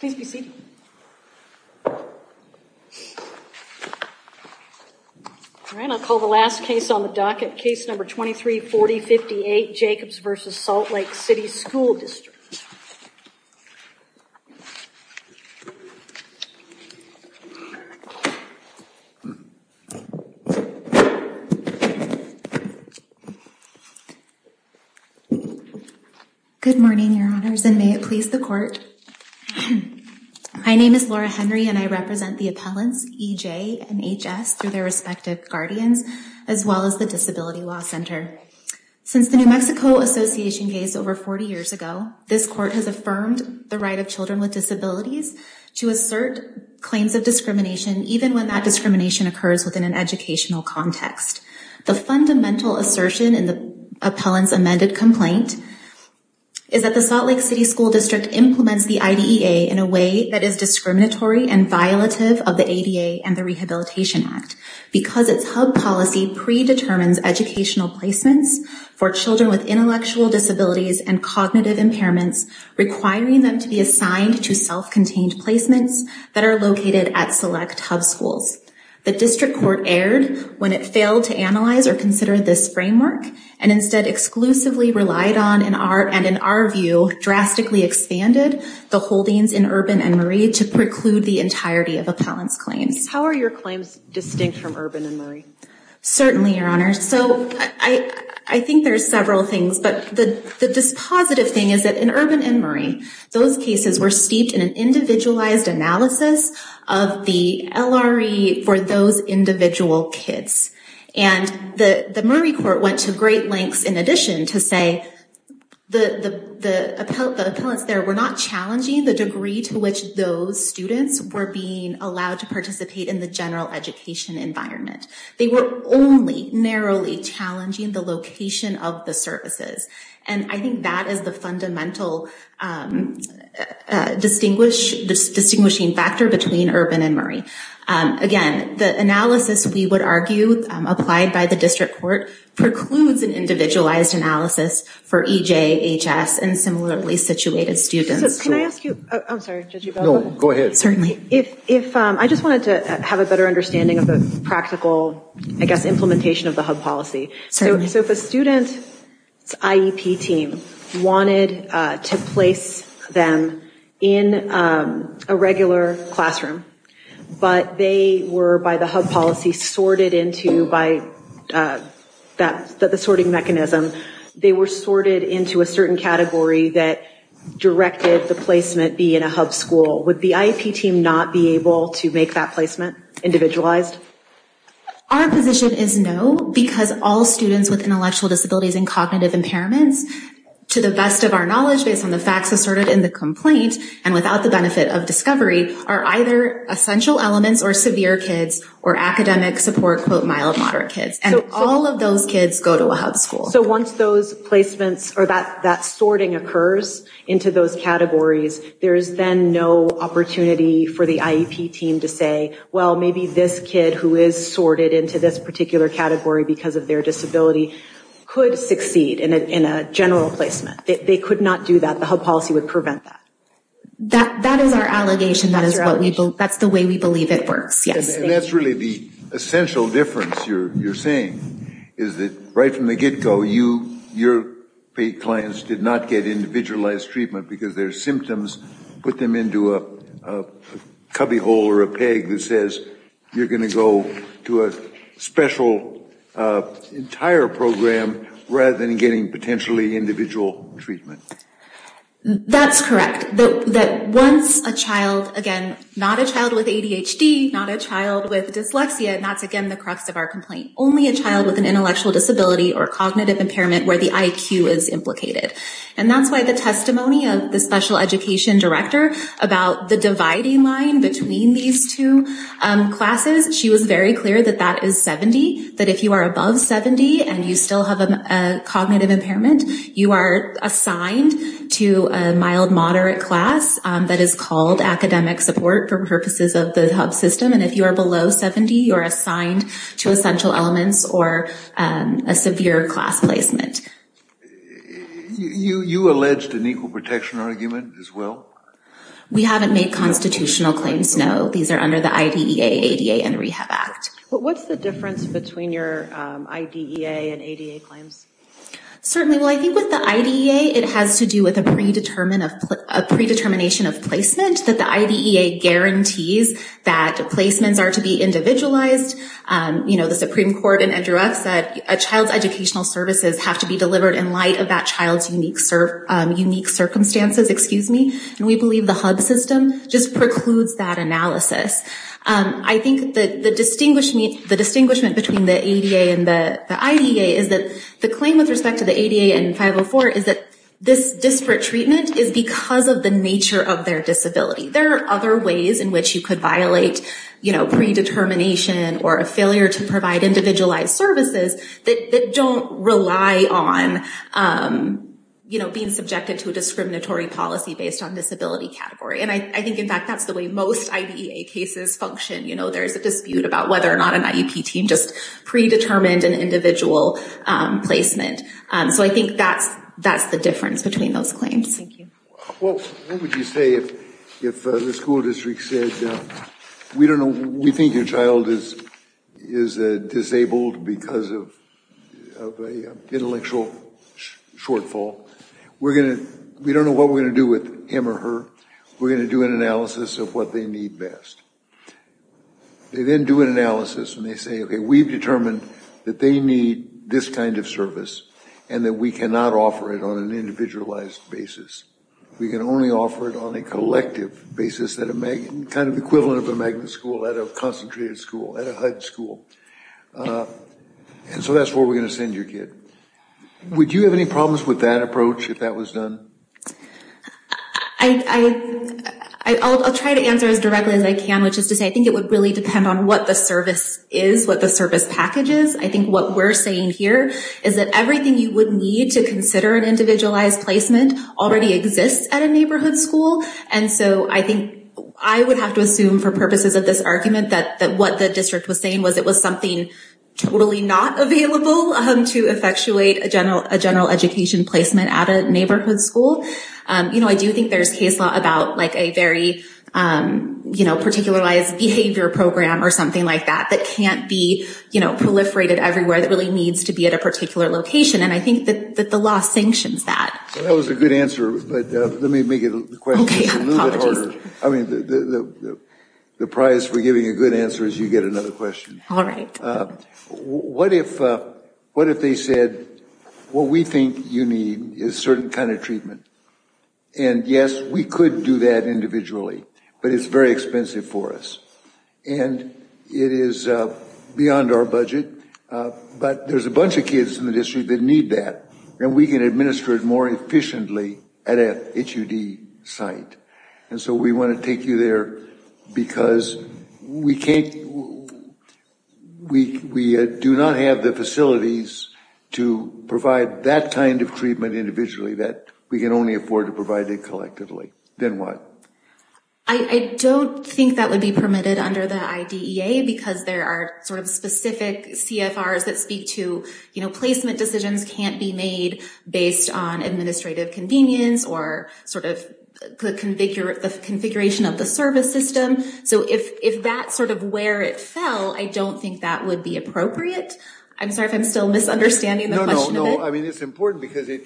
Please be seated. Alright, I'll call the last case on the docket, case number 234058, Jacobs v. Salt Lake City School District. Good morning, your honors, and may it please the court. My name is Laura Henry and I represent the appellants EJ and HS through their respective guardians, as well as the Disability Law Center. Since the New Mexico Association case over 40 years ago, this court has affirmed the right of children with disabilities to assert claims of discrimination, even when that discrimination occurs within an educational context. The fundamental assertion in the appellant's amended complaint is that the Salt Lake City School District implements the IDEA in a way that is discriminatory and violative of the ADA and the Rehabilitation Act, because its hub policy predetermines educational placements for children with intellectual disabilities and cognitive impairments, requiring them to be assigned to self-contained placements that are located at select hub schools. The district court erred when it failed to analyze or consider this framework, and instead exclusively relied on, and in our view, drastically expanded, the holdings in Urban and Murray to preclude the entirety of appellants' claims. How are your claims distinct from Urban and Murray? Certainly, Your Honor. So I think there's several things, but the positive thing is that in Urban and Murray, those cases were steeped in an individualized analysis of the LRE for those individual kids. And the Murray court went to great lengths, in addition, to say the appellants there were not challenging the degree to which those students were being allowed to participate in the general education environment. They were only narrowly challenging the location of the services, and I think that is the fundamental distinguishing factor between Urban and Murray. Again, the analysis, we would argue, applied by the district court, precludes an individualized analysis for EJ, HS, and similarly situated students. I just wanted to have a better understanding of the practical implementation of the hub policy. So if a student's IEP team wanted to place them in a regular classroom, but they were, by the hub policy, sorted into, by the sorting mechanism, they were sorted into a certain category that directed the placement be in a hub school, would the IEP team not be able to make that placement individualized? Our position is no, because all students with intellectual disabilities and cognitive impairments, to the best of our knowledge, based on the facts asserted in the complaint, and without the benefit of discovery, are either essential elements or severe kids or academic support, quote, mild, moderate kids. And all of those kids go to a hub school. So once those placements, or that sorting occurs into those categories, there is then no opportunity for the IEP team to say, well, maybe this kid who is sorted into this particular category because of their disability could succeed in a general placement. They could not do that. The hub policy would prevent that. That is our allegation. That's the way we believe it works, yes. And that's really the essential difference you're saying, is that right from the get-go, your clients did not get individualized treatment because their symptoms put them into a cubbyhole or a peg that says you're going to go to a special entire program rather than getting potentially individual treatment. That's correct. That once a child, again, not a child with ADHD, not a child with dyslexia, and that's again the crux of our complaint, only a child with an intellectual disability or cognitive impairment where the IQ is implicated. And that's why the testimony of the special education director about the dividing line between these two classes, she was very clear that that is 70, that if you are above 70 and you still have a cognitive impairment, you are assigned to a mild-moderate class that is called academic support for purposes of the hub system. And if you are below 70, you are assigned to essential elements or a severe class placement. You alleged an equal protection argument as well? We haven't made constitutional claims, no. These are under the IDEA, ADA, and Rehab Act. What's the difference between your IDEA and ADA claims? Certainly. Well, I think with the IDEA, it has to do with a predetermination of placement that the IDEA guarantees that placements are to be individualized. You know, the Supreme Court in Andrew F. said a child's educational services have to be delivered in light of that child's unique circumstances. Excuse me. And we believe the hub system just precludes that analysis. I think the distinguishment between the ADA and the IDEA is that the claim with respect to the ADA and 504 is that this disparate treatment is because of the nature of their disability. There are other ways in which you could violate, you know, predetermination or a failure to provide individualized services that don't rely on, you know, being subjected to a discriminatory policy based on disability category. And I think, in fact, that's the way most IDEA cases function. You know, there's a dispute about whether or not an IEP team just predetermined an individual placement. So I think that's the difference between those claims. Thank you. Well, what would you say if the school district said, we think your child is disabled because of an intellectual shortfall. We don't know what we're going to do with him or her. We're going to do an analysis of what they need best. They then do an analysis, and they say, OK, we've determined that they need this kind of service and that we cannot offer it on an individualized basis. We can only offer it on a collective basis, kind of equivalent of a magnet school at a concentrated school, at a HUD school. And so that's where we're going to send your kid. Would you have any problems with that approach if that was done? I'll try to answer as directly as I can, which is to say I think it would really depend on what the service is, what the service package is. I think what we're saying here is that everything you would need to consider an individualized placement already exists at a neighborhood school. And so I think I would have to assume for purposes of this argument that what the district was saying was it was something totally not available to effectuate a general education placement at a neighborhood school. You know, I do think there's case law about like a very, you know, particularized behavior program or something like that that can't be, you know, proliferated everywhere that really needs to be at a particular location. And I think that the law sanctions that. That was a good answer, but let me make it a little bit harder. I mean, the prize for giving a good answer is you get another question. All right. What if what if they said, well, we think you need a certain kind of treatment? And yes, we could do that individually, but it's very expensive for us and it is beyond our budget. But there's a bunch of kids in the district that need that and we can administer it more efficiently at a HUD site. And so we want to take you there because we can't. We do not have the facilities to provide that kind of treatment individually that we can only afford to provide it collectively. Then what? I don't think that would be permitted under the IDEA because there are sort of specific CFRs that speak to, you know, placement decisions can't be made based on administrative convenience or sort of configure the configuration of the service system. So if that's sort of where it fell, I don't think that would be appropriate. I'm sorry if I'm still misunderstanding. No, no, no. I mean, it's important because it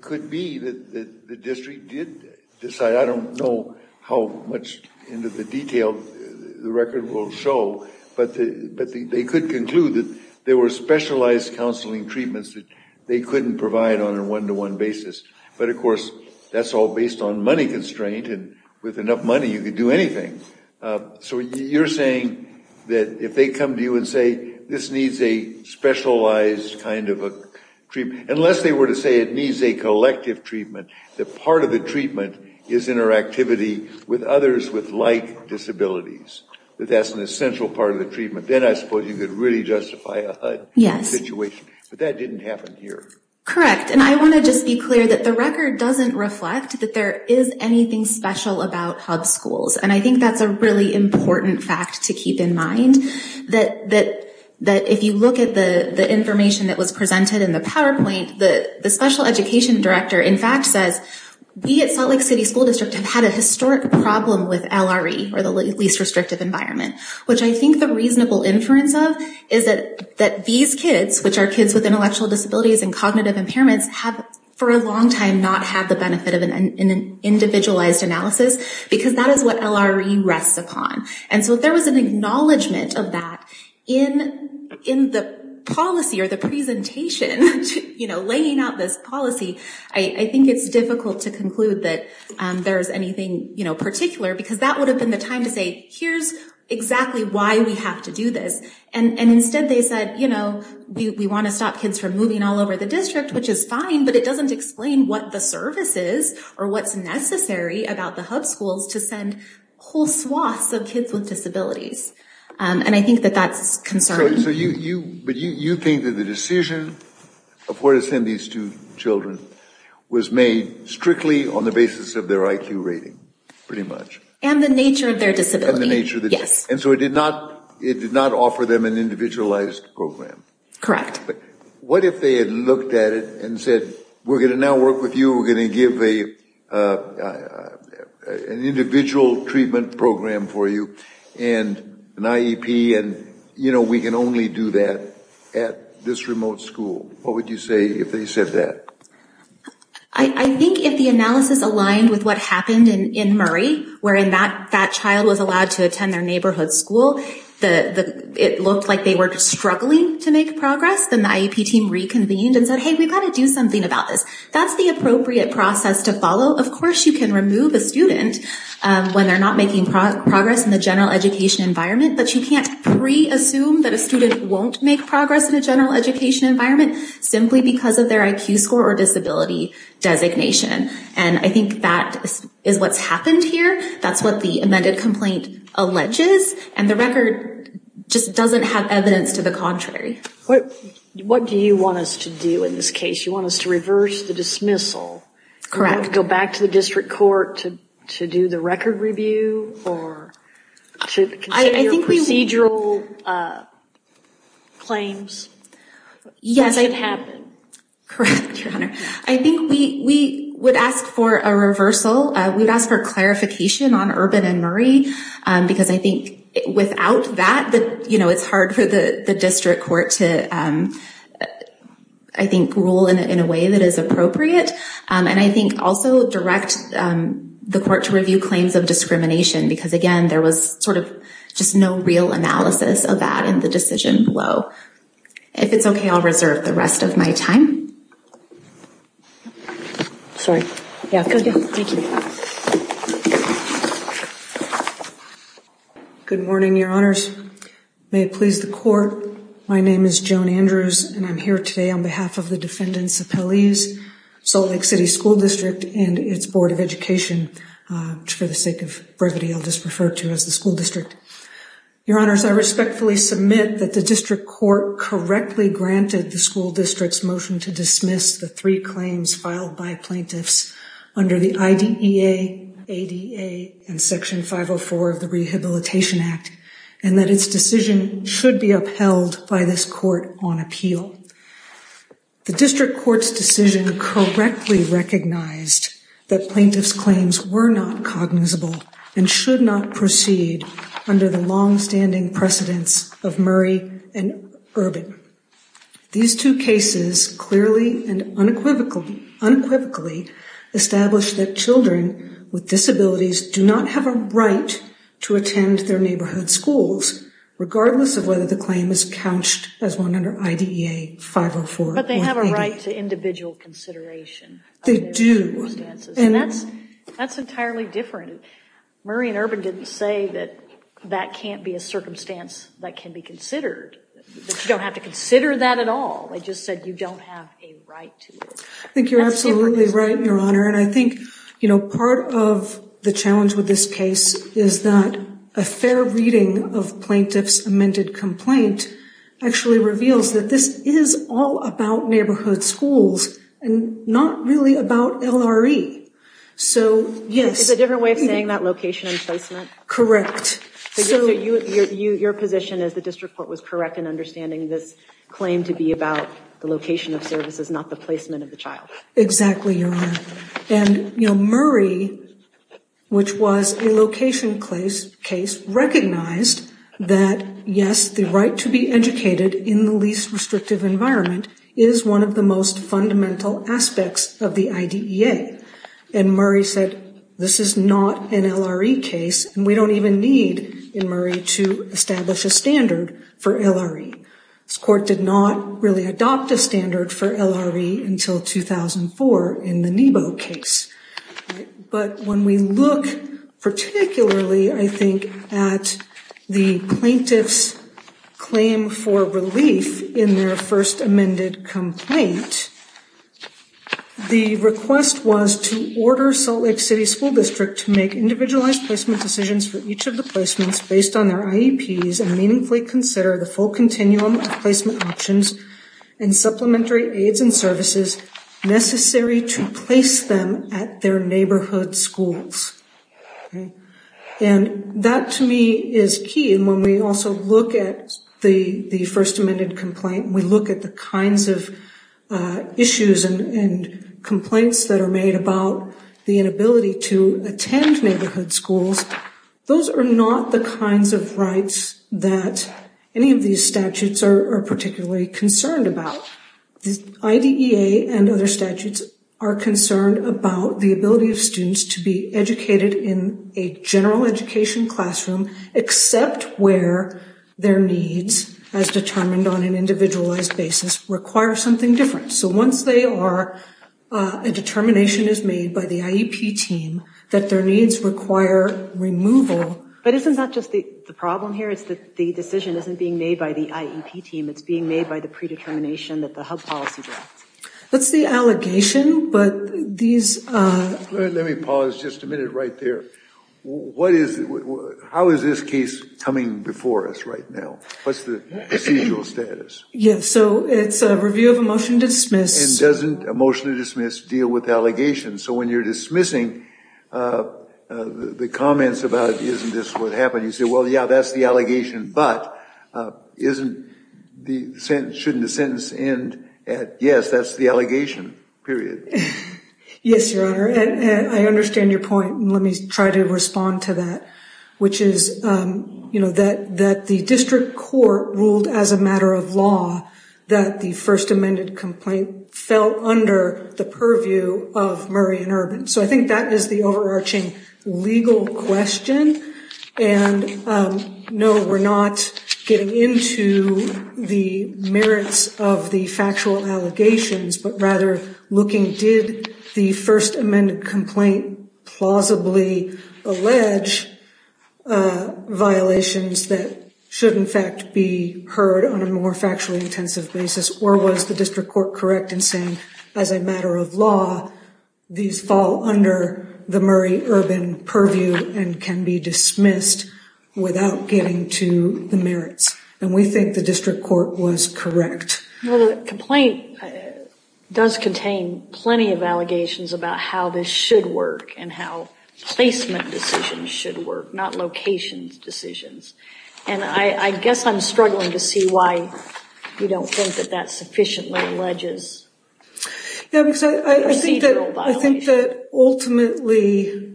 could be that the district did decide. I don't know how much into the detail the record will show, but they could conclude that there were specialized counseling treatments that they couldn't provide on a one-to-one basis. But, of course, that's all based on money constraint. And with enough money, you could do anything. So you're saying that if they come to you and say this needs a specialized kind of a treatment, unless they were to say it needs a collective treatment, that part of the treatment is interactivity with others with like disabilities, that that's an essential part of the treatment. Then I suppose you could really justify a HUD situation. But that didn't happen here. Correct. And I want to just be clear that the record doesn't reflect that there is anything special about HUD schools. And I think that's a really important fact to keep in mind, that if you look at the information that was presented in the PowerPoint, the special education director, in fact, says we at Salt Lake City School District have had a historic problem with LRE, or the least restrictive environment. Which I think the reasonable inference of is that these kids, which are kids with intellectual disabilities and cognitive impairments, have for a long time not had the benefit of an individualized analysis, because that is what LRE rests upon. And so if there was an acknowledgment of that in the policy or the presentation, laying out this policy, I think it's difficult to conclude that there's anything particular, because that would have been the time to say, here's exactly why we have to do this. And instead they said, you know, we want to stop kids from moving all over the district, which is fine, but it doesn't explain what the service is or what's necessary about the HUD schools to send whole swaths of kids with disabilities. And I think that that's concerning. But you think that the decision of where to send these two children was made strictly on the basis of their IQ rating, pretty much? And the nature of their disability, yes. And so it did not offer them an individualized program? Correct. But what if they had looked at it and said, we're going to now work with you, we're going to give an individual treatment program for you, and an IEP, and, you know, we can only do that at this remote school. What would you say if they said that? I think if the analysis aligned with what happened in Murray, wherein that child was allowed to attend their neighborhood school, it looked like they were struggling to make progress, then the IEP team reconvened and said, hey, we've got to do something about this. That's the appropriate process to follow. Of course you can remove a student when they're not making progress in the general education environment, but you can't pre-assume that a student won't make progress in a general education environment simply because of their IQ score or disability designation. And I think that is what's happened here. That's what the amended complaint alleges. And the record just doesn't have evidence to the contrary. What do you want us to do in this case? You want us to reverse the dismissal? Correct. Do you want to go back to the district court to do the record review or to continue your procedural claims? Yes. As they've happened. Correct, Your Honor. I think we would ask for a reversal. We'd ask for clarification on Urban and Murray, because I think without that, you know, it's hard for the district court to, I think, rule in a way that is appropriate. And I think also direct the court to review claims of discrimination because, again, there was sort of just no real analysis of that in the decision below. If it's okay, I'll reserve the rest of my time. Sorry. Yeah, go ahead. Thank you. May it please the court. My name is Joan Andrews, and I'm here today on behalf of the defendant's appellees, Salt Lake City School District and its Board of Education, for the sake of brevity, I'll just refer to as the school district. Your Honors, I respectfully submit that the district court correctly granted the school district's motion to dismiss the three claims filed by plaintiffs under the IDEA, ADA, and Section 504 of the Rehabilitation Act, and that its decision should be upheld by this court on appeal. The district court's decision correctly recognized that plaintiff's claims were not cognizable and should not proceed under the longstanding precedence of Murray and Urban. These two cases clearly and unequivocally establish that children with disabilities do not have a right to attend their neighborhood schools, regardless of whether the claim is couched as one under IDEA 504. But they have a right to individual consideration. They do. And that's entirely different. Murray and Urban didn't say that that can't be a circumstance that can be considered, that you don't have to consider that at all. They just said you don't have a right to it. I think you're absolutely right, Your Honor. And I think, you know, part of the challenge with this case is that a fair reading of plaintiff's amended complaint actually reveals that this is all about neighborhood schools and not really about LRE. Yes, it's a different way of saying that location and placement. Correct. So your position is the district court was correct in understanding this claim to be about the location of services, not the placement of the child. Exactly, Your Honor. And, you know, Murray, which was a location case, recognized that, yes, the right to be educated in the least restrictive environment is one of the most fundamental aspects of the IDEA. And Murray said this is not an LRE case and we don't even need, in Murray, to establish a standard for LRE. This court did not really adopt a standard for LRE until 2004 in the NEBO case. But when we look particularly, I think, at the plaintiff's claim for relief in their first amended complaint, the request was to order Salt Lake City School District to make individualized placement decisions for each of the placements based on their IEPs and meaningfully consider the full continuum of placement options and supplementary aids and services necessary to place them at their neighborhood schools. And that, to me, is key. And when we also look at the first amended complaint, we look at the kinds of issues and complaints that are made about the inability to attend neighborhood schools. Those are not the kinds of rights that any of these statutes are particularly concerned about. The IDEA and other statutes are concerned about the ability of students to be educated in a general education classroom except where their needs, as determined on an individualized basis, require something different. So once they are, a determination is made by the IEP team that their needs require removal. But isn't that just the problem here? It's that the decision isn't being made by the IEP team. It's being made by the predetermination that the HUD policy directs. That's the allegation, but these... Let me pause just a minute right there. How is this case coming before us right now? What's the procedural status? Yes, so it's a review of a motion to dismiss. And doesn't a motion to dismiss deal with allegations? So when you're dismissing the comments about isn't this what happened, you say, well, yeah, that's the allegation, but shouldn't the sentence end at, yes, that's the allegation, period? Yes, Your Honor. I understand your point, and let me try to respond to that, which is, you know, that the district court ruled as a matter of law that the first amended complaint fell under the purview of Murray and Urban. So I think that is the overarching legal question. And, no, we're not getting into the merits of the factual allegations, but rather looking, did the first amended complaint plausibly allege violations that should, in fact, be heard on a more factually intensive basis? Or was the district court correct in saying, as a matter of law, these fall under the Murray-Urban purview and can be dismissed without getting to the merits? And we think the district court was correct. The complaint does contain plenty of allegations about how this should work and how placement decisions should work, not location decisions. And I guess I'm struggling to see why you don't think that that sufficiently alleges procedural violations. Yeah, because I think that ultimately,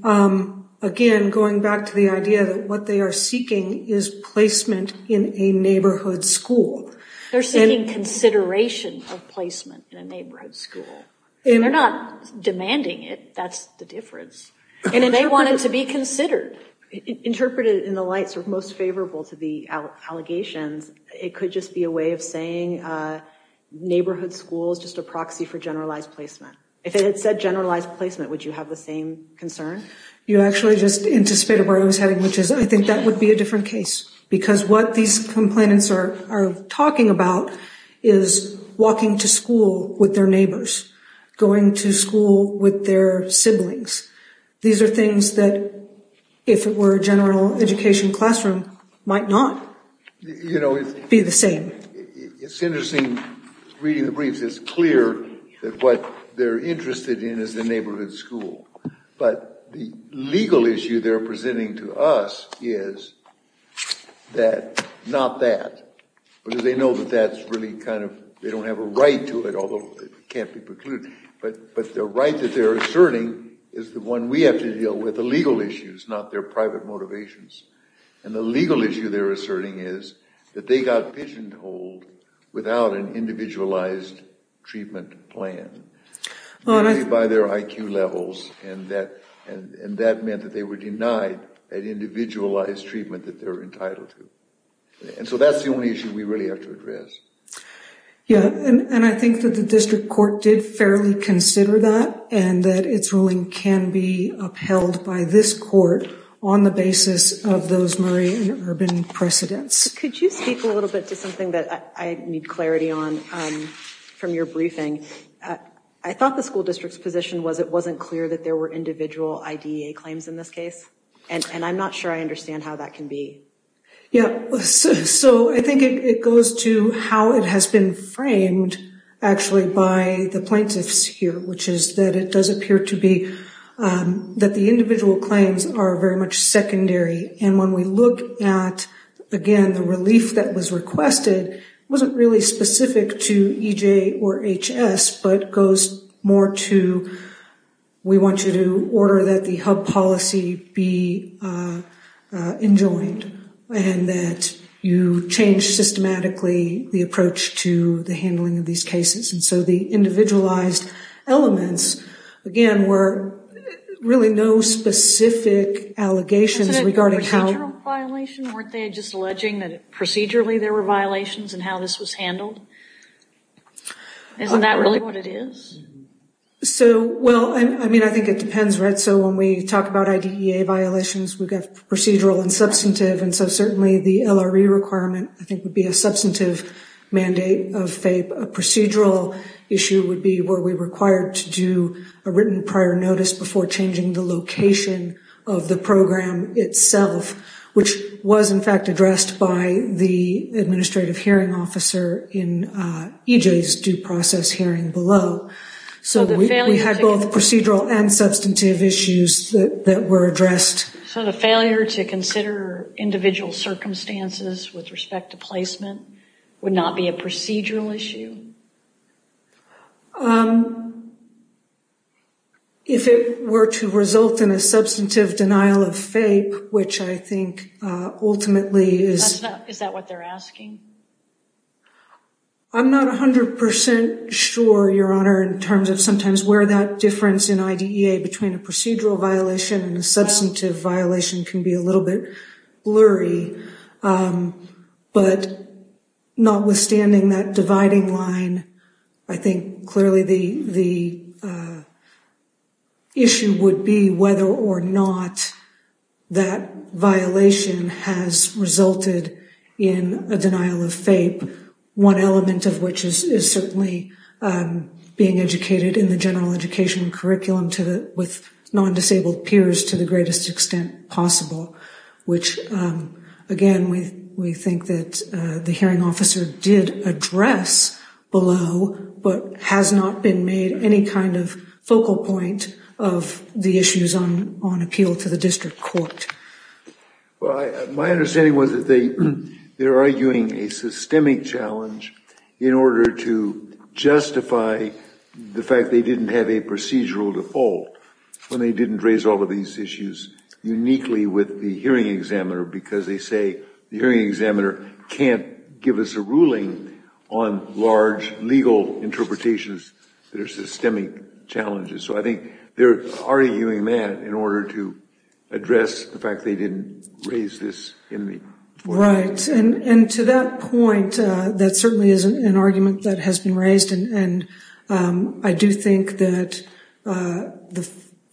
again, going back to the idea that what they are seeking is placement in a neighborhood school. They're seeking consideration of placement in a neighborhood school. They're not demanding it. That's the difference. They want it to be considered. Interpreted in the light most favorable to the allegations, it could just be a way of saying neighborhood school is just a proxy for generalized placement. If it had said generalized placement, would you have the same concern? You actually just anticipated where I was heading, which is I think that would be a different case. Because what these complainants are talking about is walking to school with their neighbors, going to school with their siblings. These are things that, if it were a general education classroom, might not be the same. It's interesting reading the briefs. It's clear that what they're interested in is the neighborhood school. But the legal issue they're presenting to us is that not that. Because they know that that's really kind of – they don't have a right to it, although it can't be precluded. But the right that they're asserting is the one we have to deal with, the legal issues, not their private motivations. And the legal issue they're asserting is that they got pigeonholed without an individualized treatment plan, by their IQ levels, and that meant that they were denied that individualized treatment that they're entitled to. And so that's the only issue we really have to address. Yeah, and I think that the district court did fairly consider that, and that its ruling can be upheld by this court on the basis of those Murray and Urban precedents. Could you speak a little bit to something that I need clarity on from your briefing? I thought the school district's position was it wasn't clear that there were individual IDEA claims in this case, and I'm not sure I understand how that can be. Yeah, so I think it goes to how it has been framed, actually, by the plaintiffs here, which is that it does appear to be that the individual claims are very much secondary. And when we look at, again, the relief that was requested, it wasn't really specific to EJ or HS, but goes more to we want you to order that the hub policy be enjoined, and that you change systematically the approach to the handling of these cases. And so the individualized elements, again, were really no specific allegations regarding how – Isn't it a procedural violation? Weren't they just alleging that procedurally there were violations in how this was handled? Isn't that really what it is? So, well, I mean, I think it depends, right? So when we talk about IDEA violations, we've got procedural and substantive, and so certainly the LRE requirement I think would be a substantive mandate of FAPE. A procedural issue would be were we required to do a written prior notice before changing the location of the program itself, which was, in fact, addressed by the administrative hearing officer in EJ's due process hearing below. So we had both procedural and substantive issues that were addressed. So the failure to consider individual circumstances with respect to placement would not be a procedural issue? If it were to result in a substantive denial of FAPE, which I think ultimately is – Is that what they're asking? I'm not 100 percent sure, Your Honor, in terms of sometimes where that difference in IDEA between a procedural violation and a substantive violation can be a little bit blurry. But notwithstanding that dividing line, I think clearly the issue would be whether or not that violation has resulted in a denial of FAPE, one element of which is certainly being educated in the general education curriculum with non-disabled peers to the greatest extent possible, which, again, we think that the hearing officer did address below but has not been made any kind of focal point of the issues on appeal to the district court. My understanding was that they're arguing a systemic challenge in order to justify the fact they didn't have a procedural default when they didn't raise all of these issues uniquely with the hearing examiner because they say the hearing examiner can't give us a ruling on large legal interpretations that are systemic challenges. So I think they're arguing that in order to address the fact they didn't raise this in the court. Right. And to that point, that certainly is an argument that has been raised. And I do think that the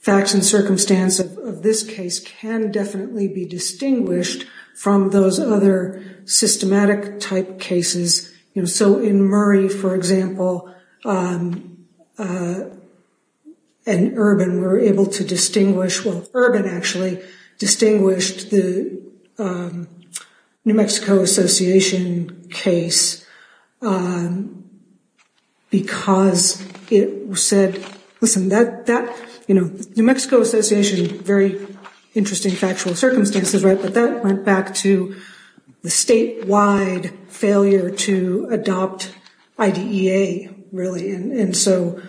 facts and circumstance of this case can definitely be distinguished from those other systematic type cases. So in Murray, for example, and Urban, we're able to distinguish, well, Urban actually distinguished the New Mexico Association case because it said, listen, that, you know, New Mexico Association, very interesting factual circumstances, right? But that went back to the statewide failure to adopt IDEA, really. And so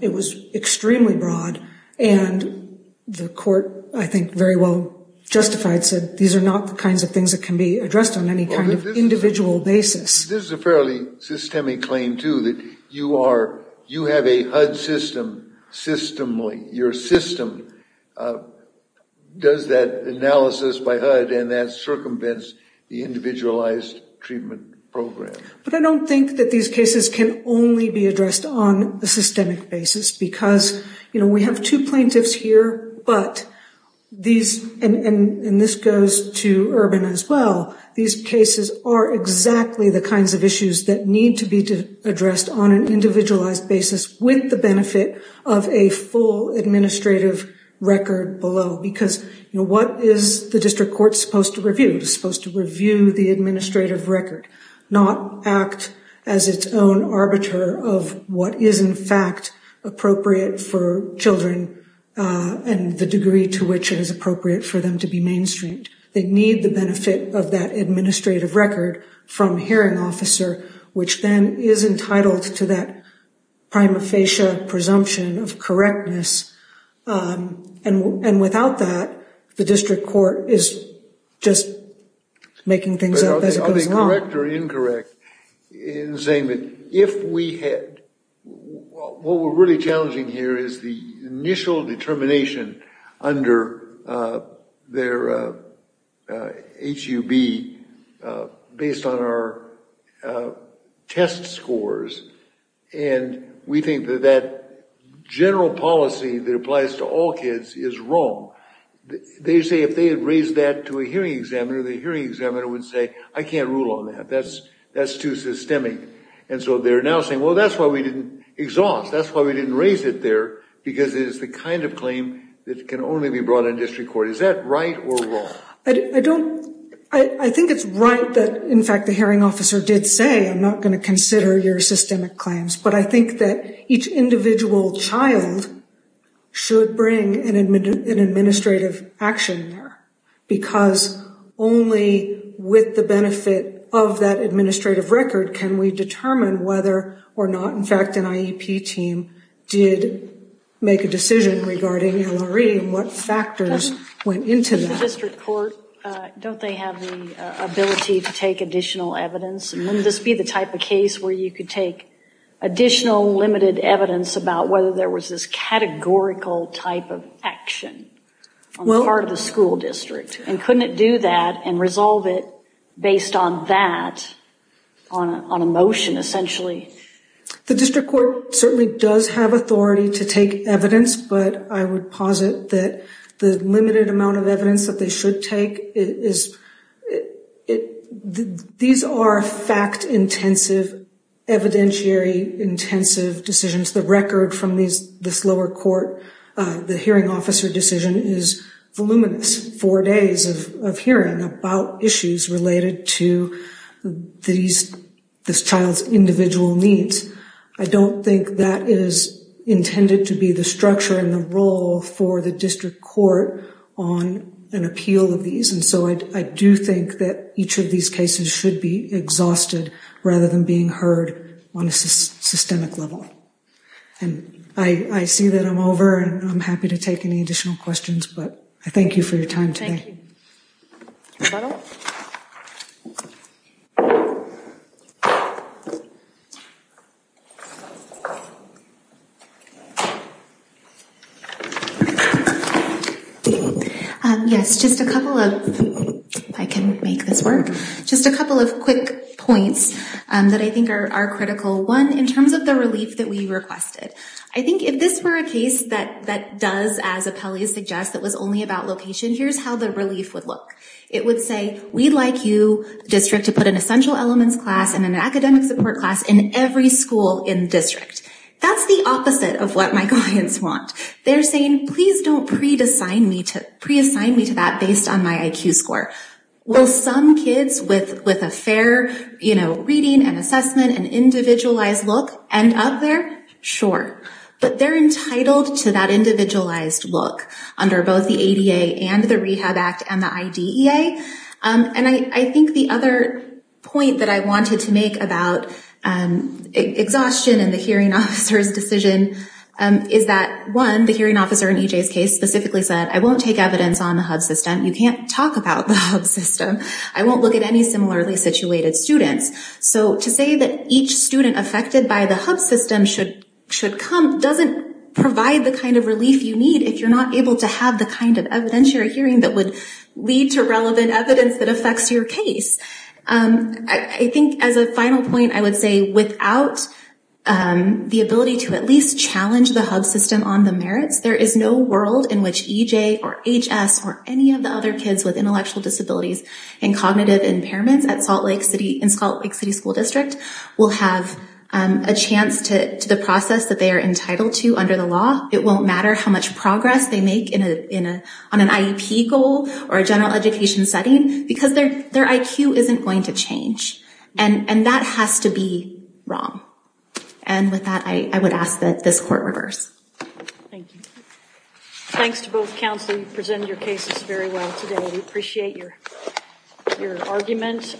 it was extremely broad. And the court, I think, very well justified, said these are not the kinds of things that can be addressed on any kind of individual basis. This is a fairly systemic claim, too, that you have a HUD system, systemly. Your system does that analysis by HUD, and that circumvents the individualized treatment program. But I don't think that these cases can only be addressed on a systemic basis because, you know, we have two plaintiffs here, but these, and this goes to Urban as well, these cases are exactly the kinds of issues that need to be addressed on an individualized basis with the benefit of a full administrative record below. Because, you know, what is the district court supposed to review? It's supposed to review the administrative record, not act as its own arbiter of what is in fact appropriate for children and the degree to which it is appropriate for them to be mainstreamed. They need the benefit of that administrative record from a hearing officer, which then is entitled to that prima facie presumption of correctness. And without that, the district court is just making things up as it goes along. Are they correct or incorrect in saying that if we had, what we're really challenging here is the initial determination under their HUB based on our test scores, and we think that that general policy that applies to all kids is wrong, they say if they had raised that to a hearing examiner, the hearing examiner would say, I can't rule on that, that's too systemic. And so they're now saying, well, that's why we didn't exhaust, that's why we didn't raise it there, because it is the kind of claim that can only be brought in district court. Is that right or wrong? I don't, I think it's right that in fact the hearing officer did say, I'm not going to consider your systemic claims, but I think that each individual child should bring an administrative action there, because only with the benefit of that administrative record can we determine whether or not in fact an IEP team did make a decision regarding LRE and what factors went into that. In district court, don't they have the ability to take additional evidence, and wouldn't this be the type of case where you could take additional limited evidence about whether there was this categorical type of action on the part of the school district, and couldn't it do that and resolve it based on that, on a motion essentially? The district court certainly does have authority to take evidence, but I would posit that the limited amount of evidence that they should take is, these are fact-intensive, evidentiary-intensive decisions. The record from this lower court, the hearing officer decision, is voluminous, four days of hearing about issues related to this child's individual needs. I don't think that is intended to be the structure and the role for the district court on an appeal of these, and so I do think that each of these cases should be exhausted rather than being heard on a systemic level. And I see that I'm over, and I'm happy to take any additional questions, but I thank you for your time today. Thank you. Is that all? Yes, just a couple of, if I can make this work, just a couple of quick points that I think are critical. One, in terms of the relief that we requested, I think if this were a case that does, as Appellee suggests, that was only about location, here's how the relief would look. It would say, we'd like you, district, to put an essential elements class and an academic support class in every school in the district. That's the opposite of what my clients want. They're saying, please don't pre-assign me to that based on my IQ score. Will some kids with a fair reading and assessment and individualized look end up there? Sure, but they're entitled to that individualized look under both the ADA and the Rehab Act and the IDEA. And I think the other point that I wanted to make about exhaustion in the hearing officer's decision is that, one, the hearing officer in EJ's case specifically said, I won't take evidence on the HUB system. You can't talk about the HUB system. I won't look at any similarly situated students. So to say that each student affected by the HUB system should come doesn't provide the kind of relief you need if you're not able to have the kind of evidentiary hearing that would lead to relevant evidence that affects your case. I think as a final point, I would say, without the ability to at least challenge the HUB system on the merits, there is no world in which EJ or HS or any of the other kids with intellectual disabilities and cognitive impairments in Salt Lake City School District will have a chance to the process that they are entitled to under the law. It won't matter how much progress they make on an IEP goal or a general education setting because their IQ isn't going to change. And that has to be wrong. And with that, I would ask that this court reverse. Thank you. Thanks to both counsel. You presented your cases very well today. We appreciate your argument.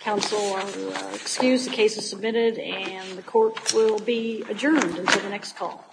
Counsel are excused. The case is submitted, and the court will be adjourned until the next call.